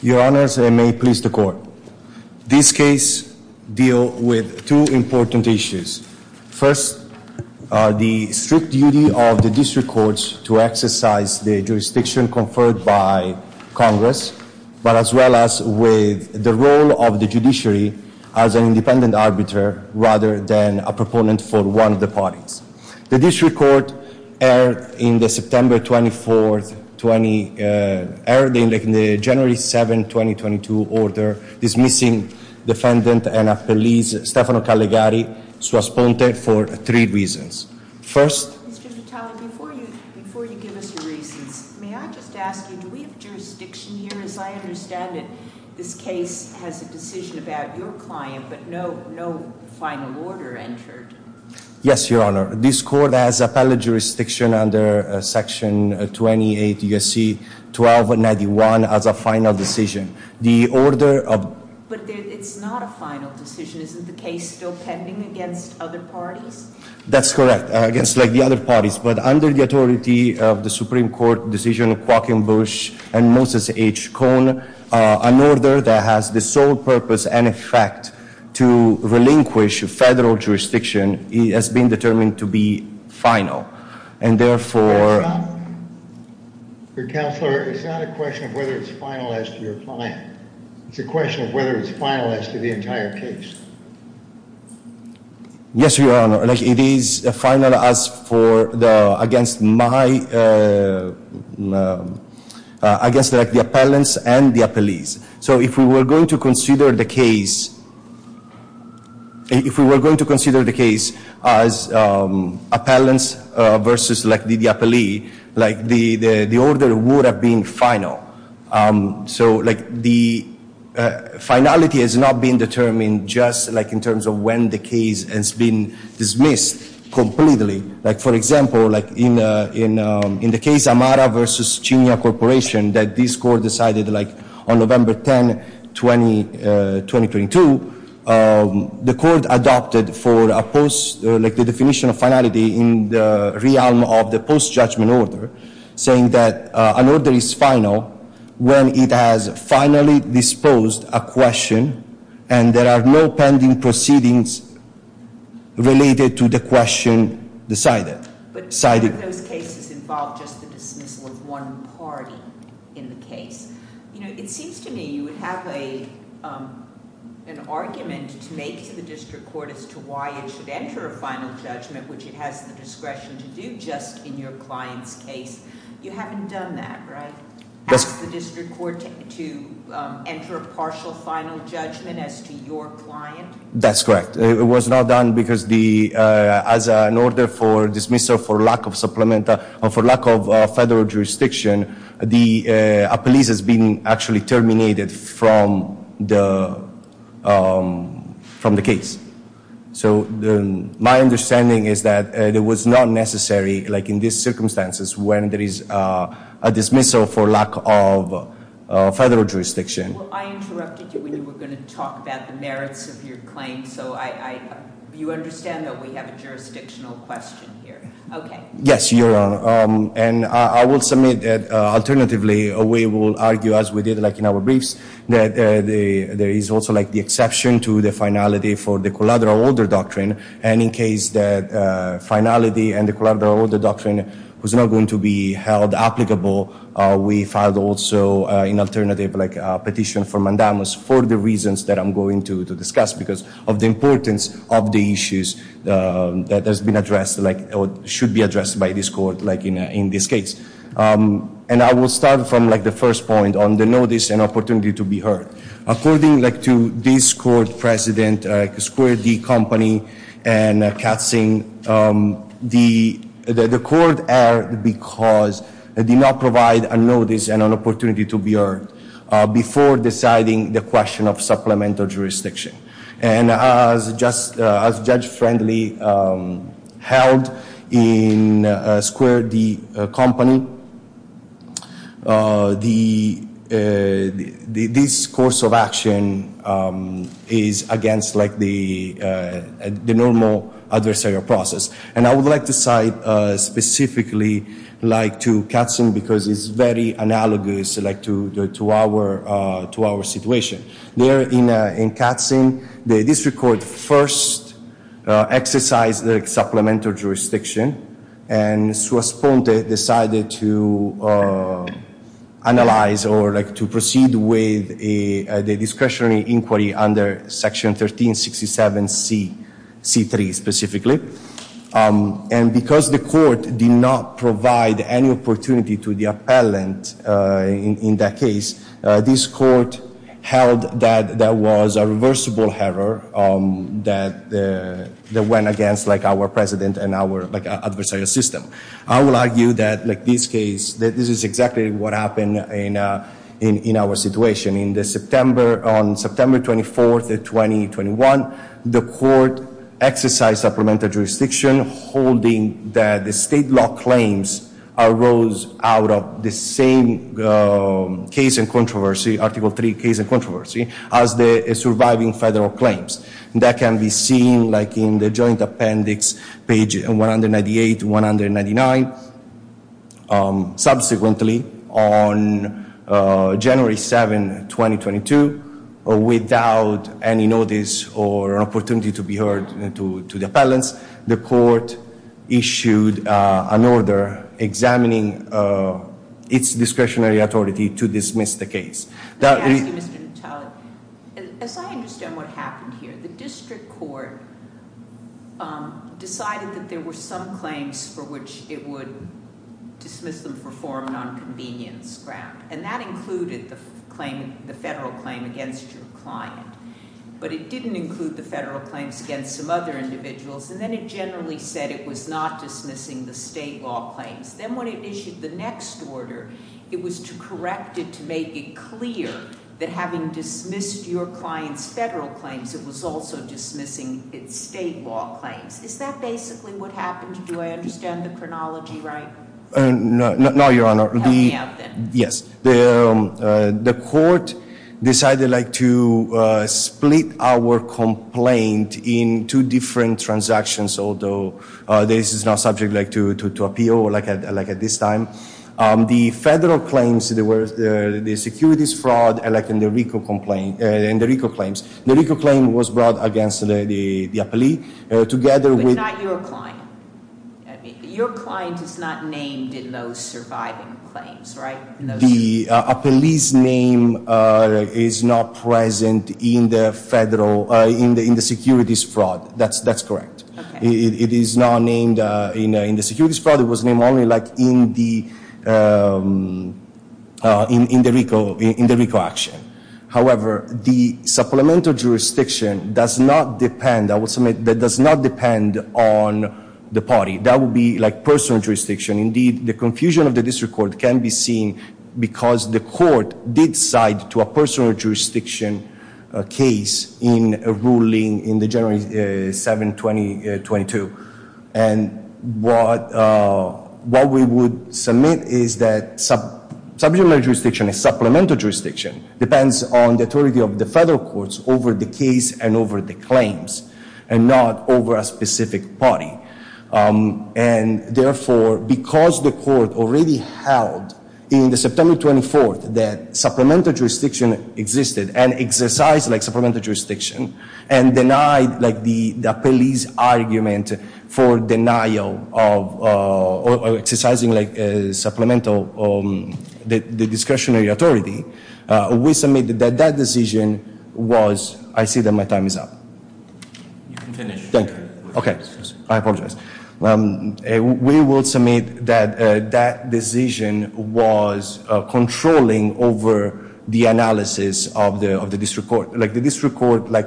Your Honors, and may it please the Court, this case deals with two important issues. First, the strict duty of the District Courts to exercise the jurisdiction conferred by rather than a proponent for one of the parties. The District Court erred in the September 24, 2020, erred in the January 7, 2022, order dismissing defendant and a police, Stefano Calegari, sua sponte, for three reasons. First... Mr. Vitale, before you give us your reasons, may I just ask you, do we have jurisdiction here? Because I understand that this case has a decision about your client, but no final order entered. Yes, Your Honor. This Court has appellate jurisdiction under Section 28 U.S.C. 1291 as a final decision. The order of... But it's not a final decision. Isn't the case still pending against other parties? That's correct, against the other parties. But under the authority of the Supreme Court decision of Joaquin Bush and Moses H. Cohn, an order that has the sole purpose and effect to relinquish federal jurisdiction has been determined to be final. And therefore... Counselor, it's not a question of whether it's final as to your client. It's a question of whether it's final as to the entire case. Yes, Your Honor. It is final as for the... Against my... Against the appellants and the appellees. So if we were going to consider the case... If we were going to consider the case as appellants versus the appellee, the order would have been final. So the finality has not been determined just in terms of when the case has been dismissed completely. For example, in the case Amara versus Chinia Corporation that this court decided on November 10, 2022, the court adopted the definition of finality in the realm of the post-judgment order, saying that an order is final when it has finally disposed a question and there are no pending proceedings related to the question decided. But none of those cases involved just the dismissal of one party in the case. It seems to me you would have an argument to make to the district court as to why it should enter a final judgment, which it has the discretion to do just in your client's case. You haven't done that, right? Asked the district court to enter a partial final judgment as to your client? That's correct. It was not done because as an order for dismissal for lack of supplemental... A police has been actually terminated from the case. So my understanding is that it was not necessary like in these circumstances when there is a dismissal for lack of federal jurisdiction. Well, I interrupted you when you were going to talk about the merits of your claim, so you understand that we have a jurisdictional question here. Okay. Yes, Your Honor. And I will submit that alternatively we will argue as we did like in our briefs that there is also like the exception to the finality for the collateral order doctrine. And in case that finality and the collateral order doctrine was not going to be held applicable, we filed also an alternative petition for mandamus for the reasons that I'm going to discuss because of the importance of the issues that has been addressed or should be addressed by this court like in this case. And I will start from the first point on the notice and opportunity to be heard. According to this court precedent, Square D Company and Katzing, the court erred because it did not provide a notice and an opportunity to be heard before deciding the question of supplemental jurisdiction. And as Judge Friendly held in Square D Company, this course of action is against the normal adversarial process. And I would like to cite specifically to Katzing because it's very analogous like to our situation. There in Katzing, the district court first exercised the supplemental jurisdiction and Swiss Ponte decided to analyze or like to proceed with the discretionary inquiry under Section 1367C3 specifically. And because the court did not provide any opportunity to the appellant in that case, this court held that there was a reversible error that went against like our precedent and our adversarial system. I will argue that like this case, this is exactly what happened in our situation. In the September, on September 24th, 2021, the court exercised supplemental jurisdiction holding that the state law claims arose out of the same case and controversy, Article III case and controversy, as the surviving federal claims. That can be seen like in the joint appendix page 198 to 199. Subsequently, on January 7, 2022, without any notice or opportunity to be heard to the appellants, the court issued an order examining its discretionary authority to dismiss the case. Let me ask you, Mr. Natale, as I understand what happened here, the district court decided that there were some claims for which it would dismiss them for form of nonconvenience ground. And that included the federal claim against your client. But it didn't include the federal claims against some other individuals. And then it generally said it was not dismissing the state law claims. Then when it issued the next order, it was corrected to make it clear that having dismissed your client's federal claims, it was also dismissing its state law claims. Is that basically what happened? Do I understand the chronology right? No, Your Honor. Tell me about that. Yes. The court decided to split our complaint in two different transactions, although this is not subject to appeal like at this time. The federal claims, the securities fraud and the RICO claims, the RICO claim was brought against the appellee together with- But not your client. Your client is not named in those surviving claims, right? The appellee's name is not present in the securities fraud. That's correct. It is not named in the securities fraud. It was named only like in the RICO action. However, the supplemental jurisdiction does not depend on the party. That would be like personal jurisdiction. Indeed, the confusion of the district court can be seen because the court did cite to a personal jurisdiction case in a ruling in the January 7, 2022. And what we would submit is that supplemental jurisdiction depends on the authority of the federal courts over the case and over the claims and not over a specific party. And therefore, because the court already held in the September 24 that supplemental jurisdiction existed and exercised like supplemental jurisdiction and denied like the appellee's argument for denial of- or exercising like supplemental- the discretionary authority, we submitted that that decision was- I see that my time is up. You can finish. Thank you. Okay. I apologize. We will submit that that decision was controlling over the analysis of the district court. Like the district court like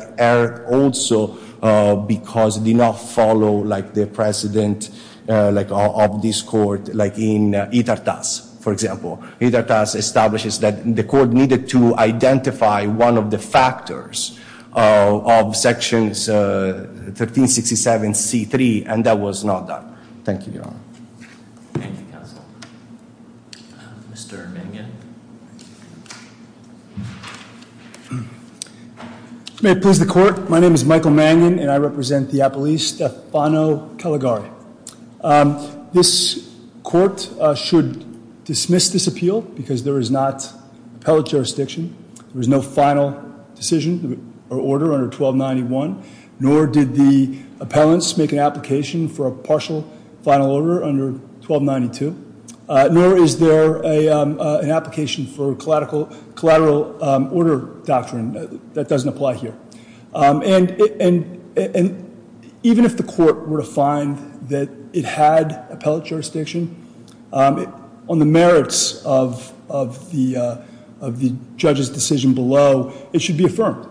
also because it did not follow like the precedent like of this court, like in Itartas, for example. Itartas establishes that the court needed to identify one of the factors of Sections 1367C3, and that was not done. Thank you, Your Honor. Thank you, Counsel. Mr. Mangan. May it please the court. My name is Michael Mangan, and I represent the appellee Stefano Caligari. This court should dismiss this appeal because there is not appellate jurisdiction. There is no final decision or order under 1291. Nor did the appellants make an application for a partial final order under 1292. Nor is there an application for collateral order doctrine that doesn't apply here. And even if the court were to find that it had appellate jurisdiction, on the merits of the judge's decision below, it should be affirmed.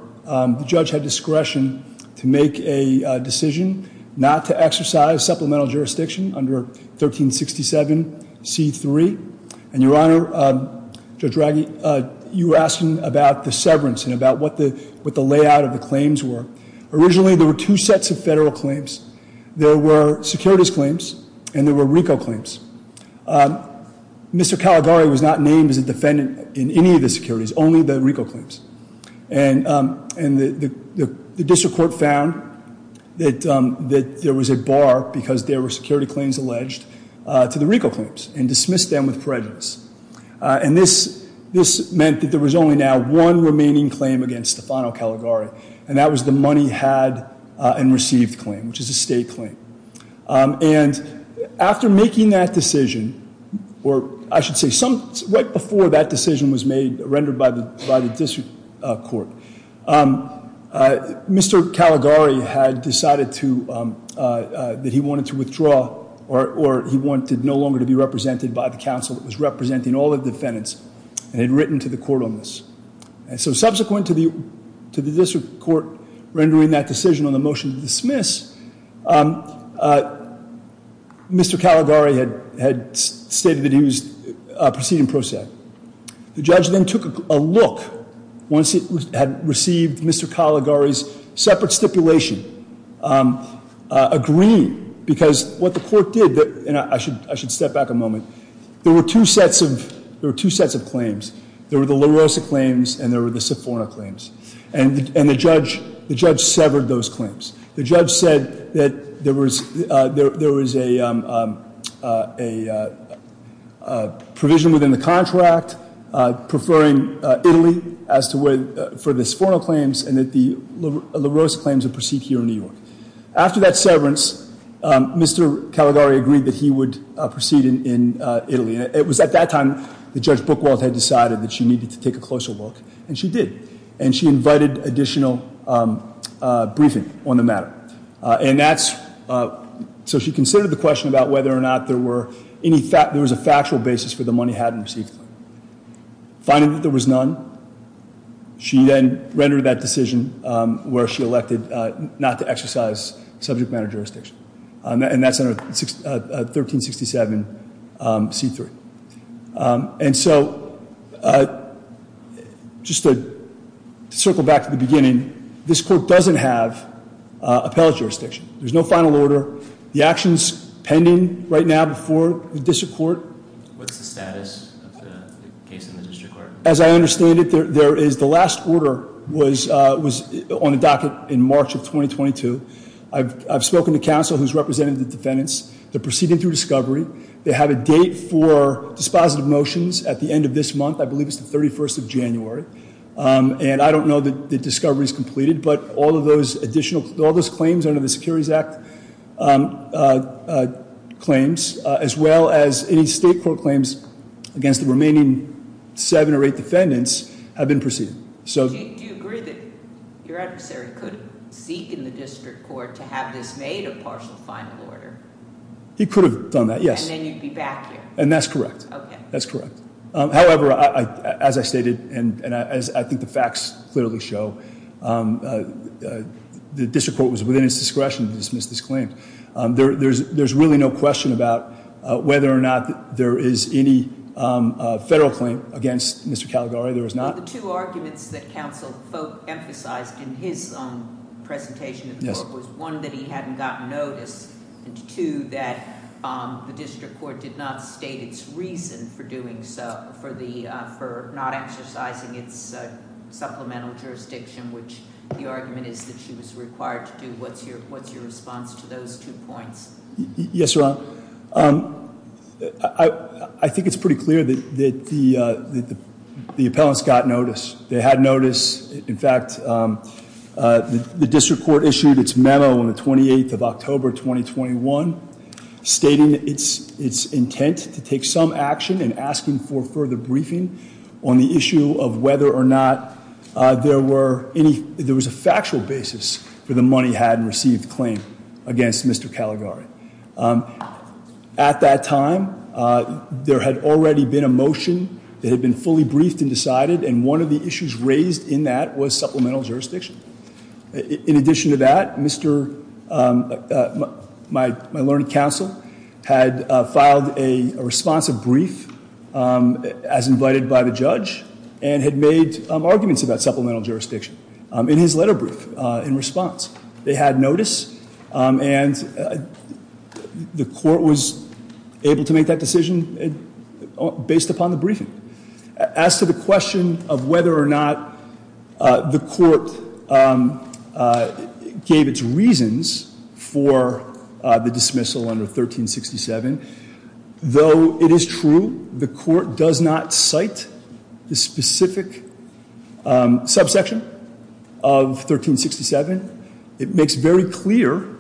The judge had discretion to make a decision not to exercise supplemental jurisdiction under 1367C3. And Your Honor, Judge Raggi, you were asking about the severance and about what the layout of the claims were. Originally, there were two sets of federal claims. There were securities claims, and there were RICO claims. Mr. Caligari was not named as a defendant in any of the securities, only the RICO claims. And the district court found that there was a bar, because there were security claims alleged to the RICO claims, and dismissed them with prejudice. And this meant that there was only now one remaining claim against Stefano Caligari, and that was the money had and received claim, which is a state claim. And after making that decision, or I should say right before that decision was rendered by the district court, Mr. Caligari had decided that he wanted to withdraw, or he wanted no longer to be represented by the council that was representing all the defendants, and had written to the court on this. And so subsequent to the district court rendering that decision on the motion to dismiss, Mr. Caligari had stated that he was proceeding pro se. The judge then took a look, once he had received Mr. Caligari's separate stipulation, agreeing, because what the court did, and I should step back a moment. There were two sets of claims. There were the La Rosa claims, and there were the Stefano claims. And the judge severed those claims. The judge said that there was a provision within the contract, preferring Italy for the Stefano claims, and that the La Rosa claims would proceed here in New York. After that severance, Mr. Caligari agreed that he would proceed in Italy. It was at that time that Judge Buchwald had decided that she needed to take a closer look, and she did. And she invited additional briefing on the matter. And that's, so she considered the question about whether or not there was a factual basis for the money hadn't received. Finding that there was none, she then rendered that decision, where she elected not to exercise subject matter jurisdiction. And that's under 1367C3. And so, just to circle back to the beginning, this court doesn't have appellate jurisdiction. There's no final order. The action's pending right now before the district court. What's the status of the case in the district court? As I understand it, the last order was on the docket in March of 2022. I've spoken to counsel who's represented the defendants. They're proceeding through discovery. They have a date for dispositive motions at the end of this month. I believe it's the 31st of January. And I don't know that the discovery's completed, but all of those additional, all those claims under the Securities Act claims, as well as any state court claims against the remaining seven or eight defendants, have been proceeded. Do you agree that your adversary could seek in the district court to have this made a partial final order? He could have done that, yes. And then you'd be back here. And that's correct. Okay. That's correct. However, as I stated, and as I think the facts clearly show, the district court was within its discretion to dismiss this claim. There's really no question about whether or not there is any federal claim against Mr. Caligari. There is not. One of the two arguments that counsel emphasized in his presentation was one, that he hadn't gotten notice, and two, that the district court did not state its reason for doing so, for not exercising its supplemental jurisdiction, which the argument is that she was required to do. What's your response to those two points? Yes, Your Honor. I think it's pretty clear that the appellants got notice. They had notice. In fact, the district court issued its memo on the 28th of October, 2021, stating its intent to take some action in asking for further briefing on the issue of whether or not there was a factual basis for the money had received claim against Mr. Caligari. At that time, there had already been a motion that had been fully briefed and decided, and one of the issues raised in that was supplemental jurisdiction. In addition to that, my learned counsel had filed a responsive brief, as invited by the judge, and had made arguments about supplemental jurisdiction in his letter brief in response. They had notice, and the court was able to make that decision based upon the briefing. As to the question of whether or not the court gave its reasons for the dismissal under 1367, though it is true the court does not cite the specific subsection of 1367, it makes very clear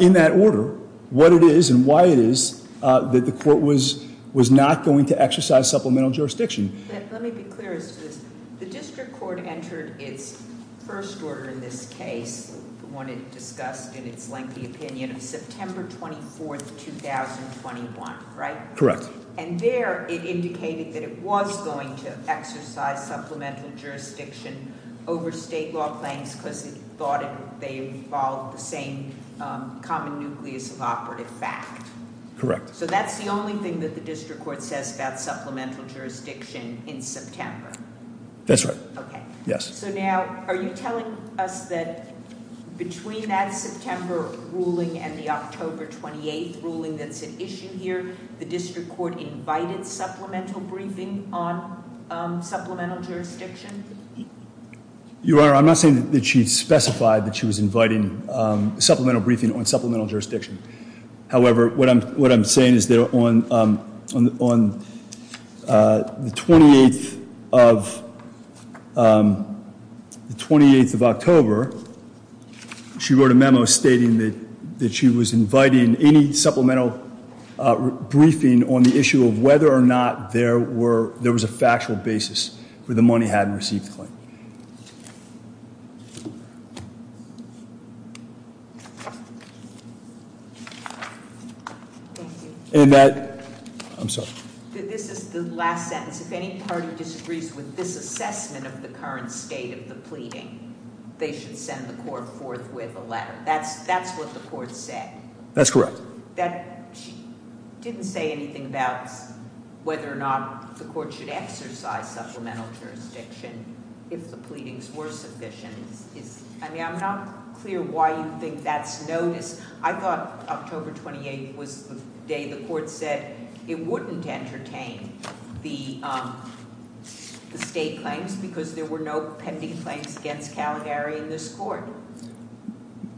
in that order what it is and why it is that the court was not going to exercise supplemental jurisdiction. Let me be clear as to this. The district court entered its first order in this case, the one it discussed in its lengthy opinion, of September 24th, 2021, right? Correct. And there it indicated that it was going to exercise supplemental jurisdiction over state law claims because it thought they involved the same common nucleus of operative fact. Correct. So that's the only thing that the district court says about supplemental jurisdiction in September? That's right. Okay. Yes. So now, are you telling us that between that September ruling and the October 28th ruling that's at issue here, the district court invited supplemental briefing on supplemental jurisdiction? Your Honor, I'm not saying that she specified that she was inviting supplemental briefing on supplemental jurisdiction. However, what I'm saying is that on the 28th of October, she wrote a memo stating that she was inviting any supplemental briefing on the issue of whether or not there was a factual basis where the money hadn't received the claim. Thank you. I'm sorry. This is the last sentence. If any party disagrees with this assessment of the current state of the pleading, they should send the court forth with a letter. That's what the court said. That's correct. She didn't say anything about whether or not the court should exercise supplemental jurisdiction if the pleadings were sufficient. I mean, I'm not clear why you think that's noticed. I thought October 28th was the day the court said it wouldn't entertain the state claims because there were no pending claims against Calgary in this court.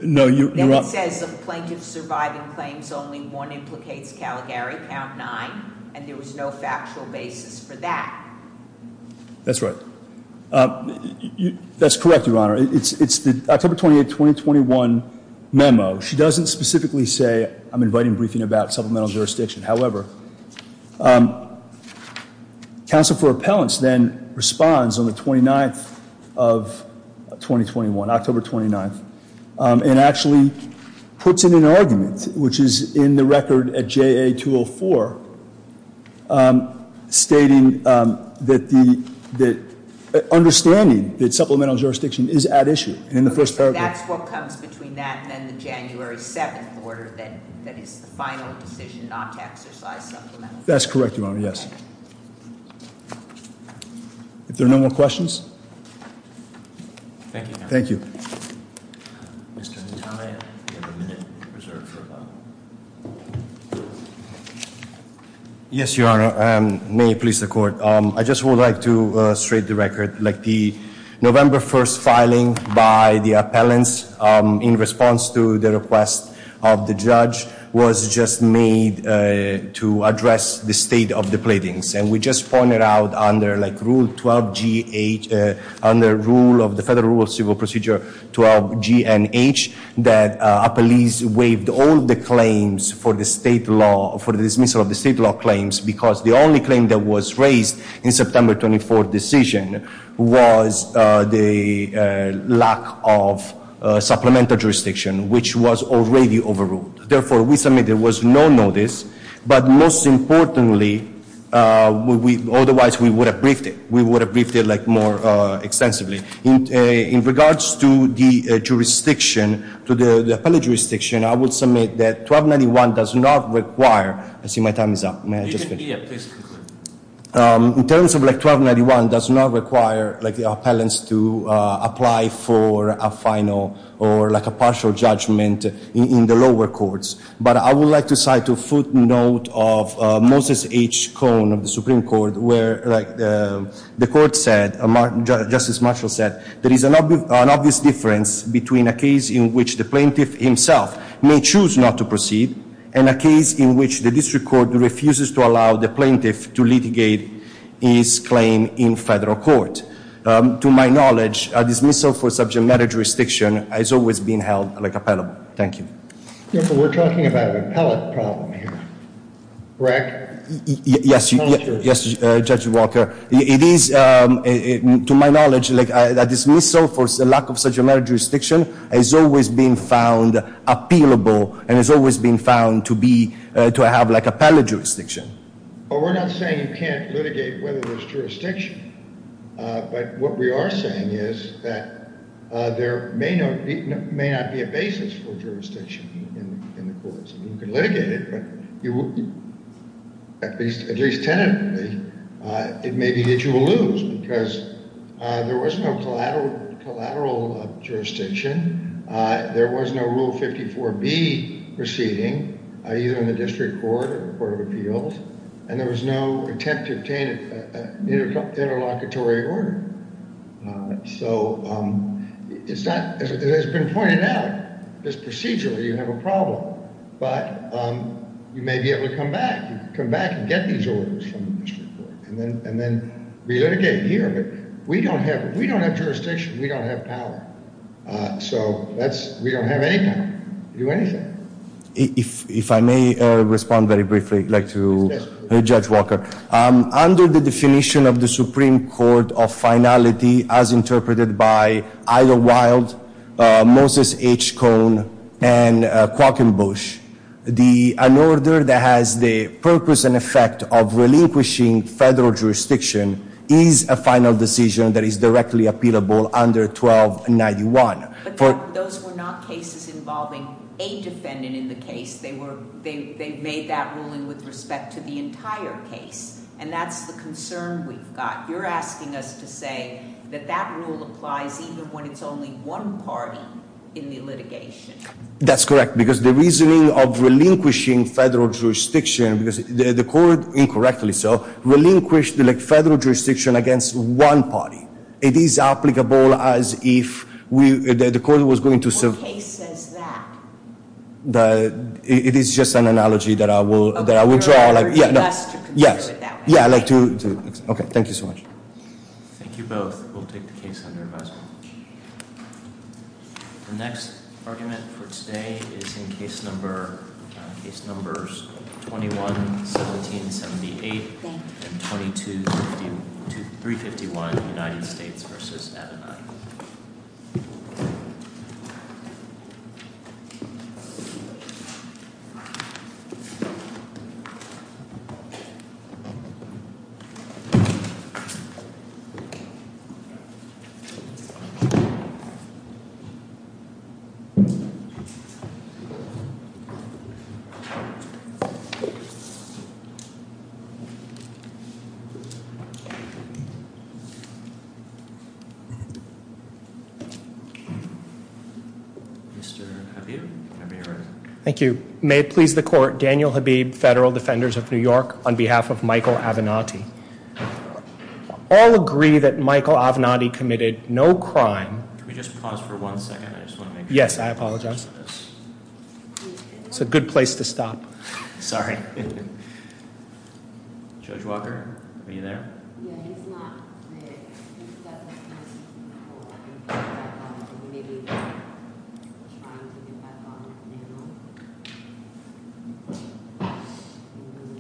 No, you're- It says the plaintiff surviving claims only one implicates Calgary, count nine, and there was no factual basis for that. That's right. That's correct, Your Honor. It's the October 28th, 2021 memo. She doesn't specifically say I'm inviting briefing about supplemental jurisdiction. However, counsel for appellants then responds on the 29th of 2021, October 29th, and actually puts in an argument, which is in the record at JA 204, stating that the understanding that supplemental jurisdiction is at issue in the first paragraph. That's what comes between that and the January 7th order that is the final decision not to exercise supplemental jurisdiction. That's correct, Your Honor, yes. If there are no more questions. Thank you, Your Honor. Thank you. Mr. Ntai, you have a minute reserved for a vote. Yes, Your Honor. May it please the court. I just would like to straight the record. The November 1st filing by the appellants in response to the request of the judge was just made to address the state of the platings, and we just pointed out under Rule 12GH, under the Federal Rule of Civil Procedure 12GNH, that appellees waived all the claims for the state law, for the dismissal of the state law claims, because the only claim that was raised in September 24th decision was the lack of supplemental jurisdiction, which was already overruled. Therefore, we submit there was no notice, but most importantly, otherwise we would have briefed it. We would have briefed it more extensively. In regards to the jurisdiction, to the appellate jurisdiction, I would submit that 1291 does not require I see my time is up. In terms of 1291 does not require the appellants to apply for a final or like a partial judgment in the lower courts. But I would like to cite a footnote of Moses H. Cohn of the Supreme Court, where the court said, Justice Marshall said, there is an obvious difference between a case in which the plaintiff himself may choose not to proceed and a case in which the district court refuses to allow the plaintiff to litigate his claim in federal court. To my knowledge, a dismissal for subject matter jurisdiction has always been held like appellable. Thank you. We're talking about an appellate problem here, correct? Yes, Judge Walker. It is, to my knowledge, a dismissal for lack of subject matter jurisdiction has always been found appealable and has always been found to have like appellate jurisdiction. But we're not saying you can't litigate whether there's jurisdiction. But what we are saying is that there may not be a basis for jurisdiction in the courts. You can litigate it, but at least tentatively, it may be that you will lose because there was no collateral jurisdiction. There was no Rule 54B proceeding, either in the district court or the court of appeals, and there was no attempt to obtain an interlocutory order. So it's not, as has been pointed out, just procedurally you have a problem, but you may be able to come back, come back and get these orders from the district court and then relitigate here. But we don't have jurisdiction. We don't have power. So we don't have any power to do anything. If I may respond very briefly, I'd like to hear Judge Walker. Under the definition of the Supreme Court of finality as interpreted by Ida Wild, Moses H. Cohn, and Quokkenbush, an order that has the purpose and effect of relinquishing federal jurisdiction is a final decision that is directly appealable under 1291. But those were not cases involving a defendant in the case. They made that ruling with respect to the entire case, and that's the concern we've got. You're asking us to say that that rule applies even when it's only one party in the litigation. That's correct, because the reasoning of relinquishing federal jurisdiction, because the court, incorrectly so, relinquished the federal jurisdiction against one party. It is applicable as if the court was going to serve. What case says that? It is just an analogy that I will draw. You're urging us to consider it that way. Yes. Yeah, I'd like to. Okay, thank you so much. Thank you both. We'll take the case under advisement. The next argument for today is in case number 21-1778 and 22-351, United States v. Adenine. Mr. Habib. Thank you. May it please the court, Daniel Habib, Federal Defenders of New York, on behalf of Michael Avenatti. All agree that Michael Avenatti committed no crime. Can we just pause for one second? Yes, I apologize. It's a good place to stop. Sorry. Judge Walker, are you there? Yeah, he's not there. He's got the keys. Oh, I think he's back on. Maybe he's trying to get back on. I don't know. I don't know.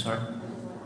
Thank you. Thank you.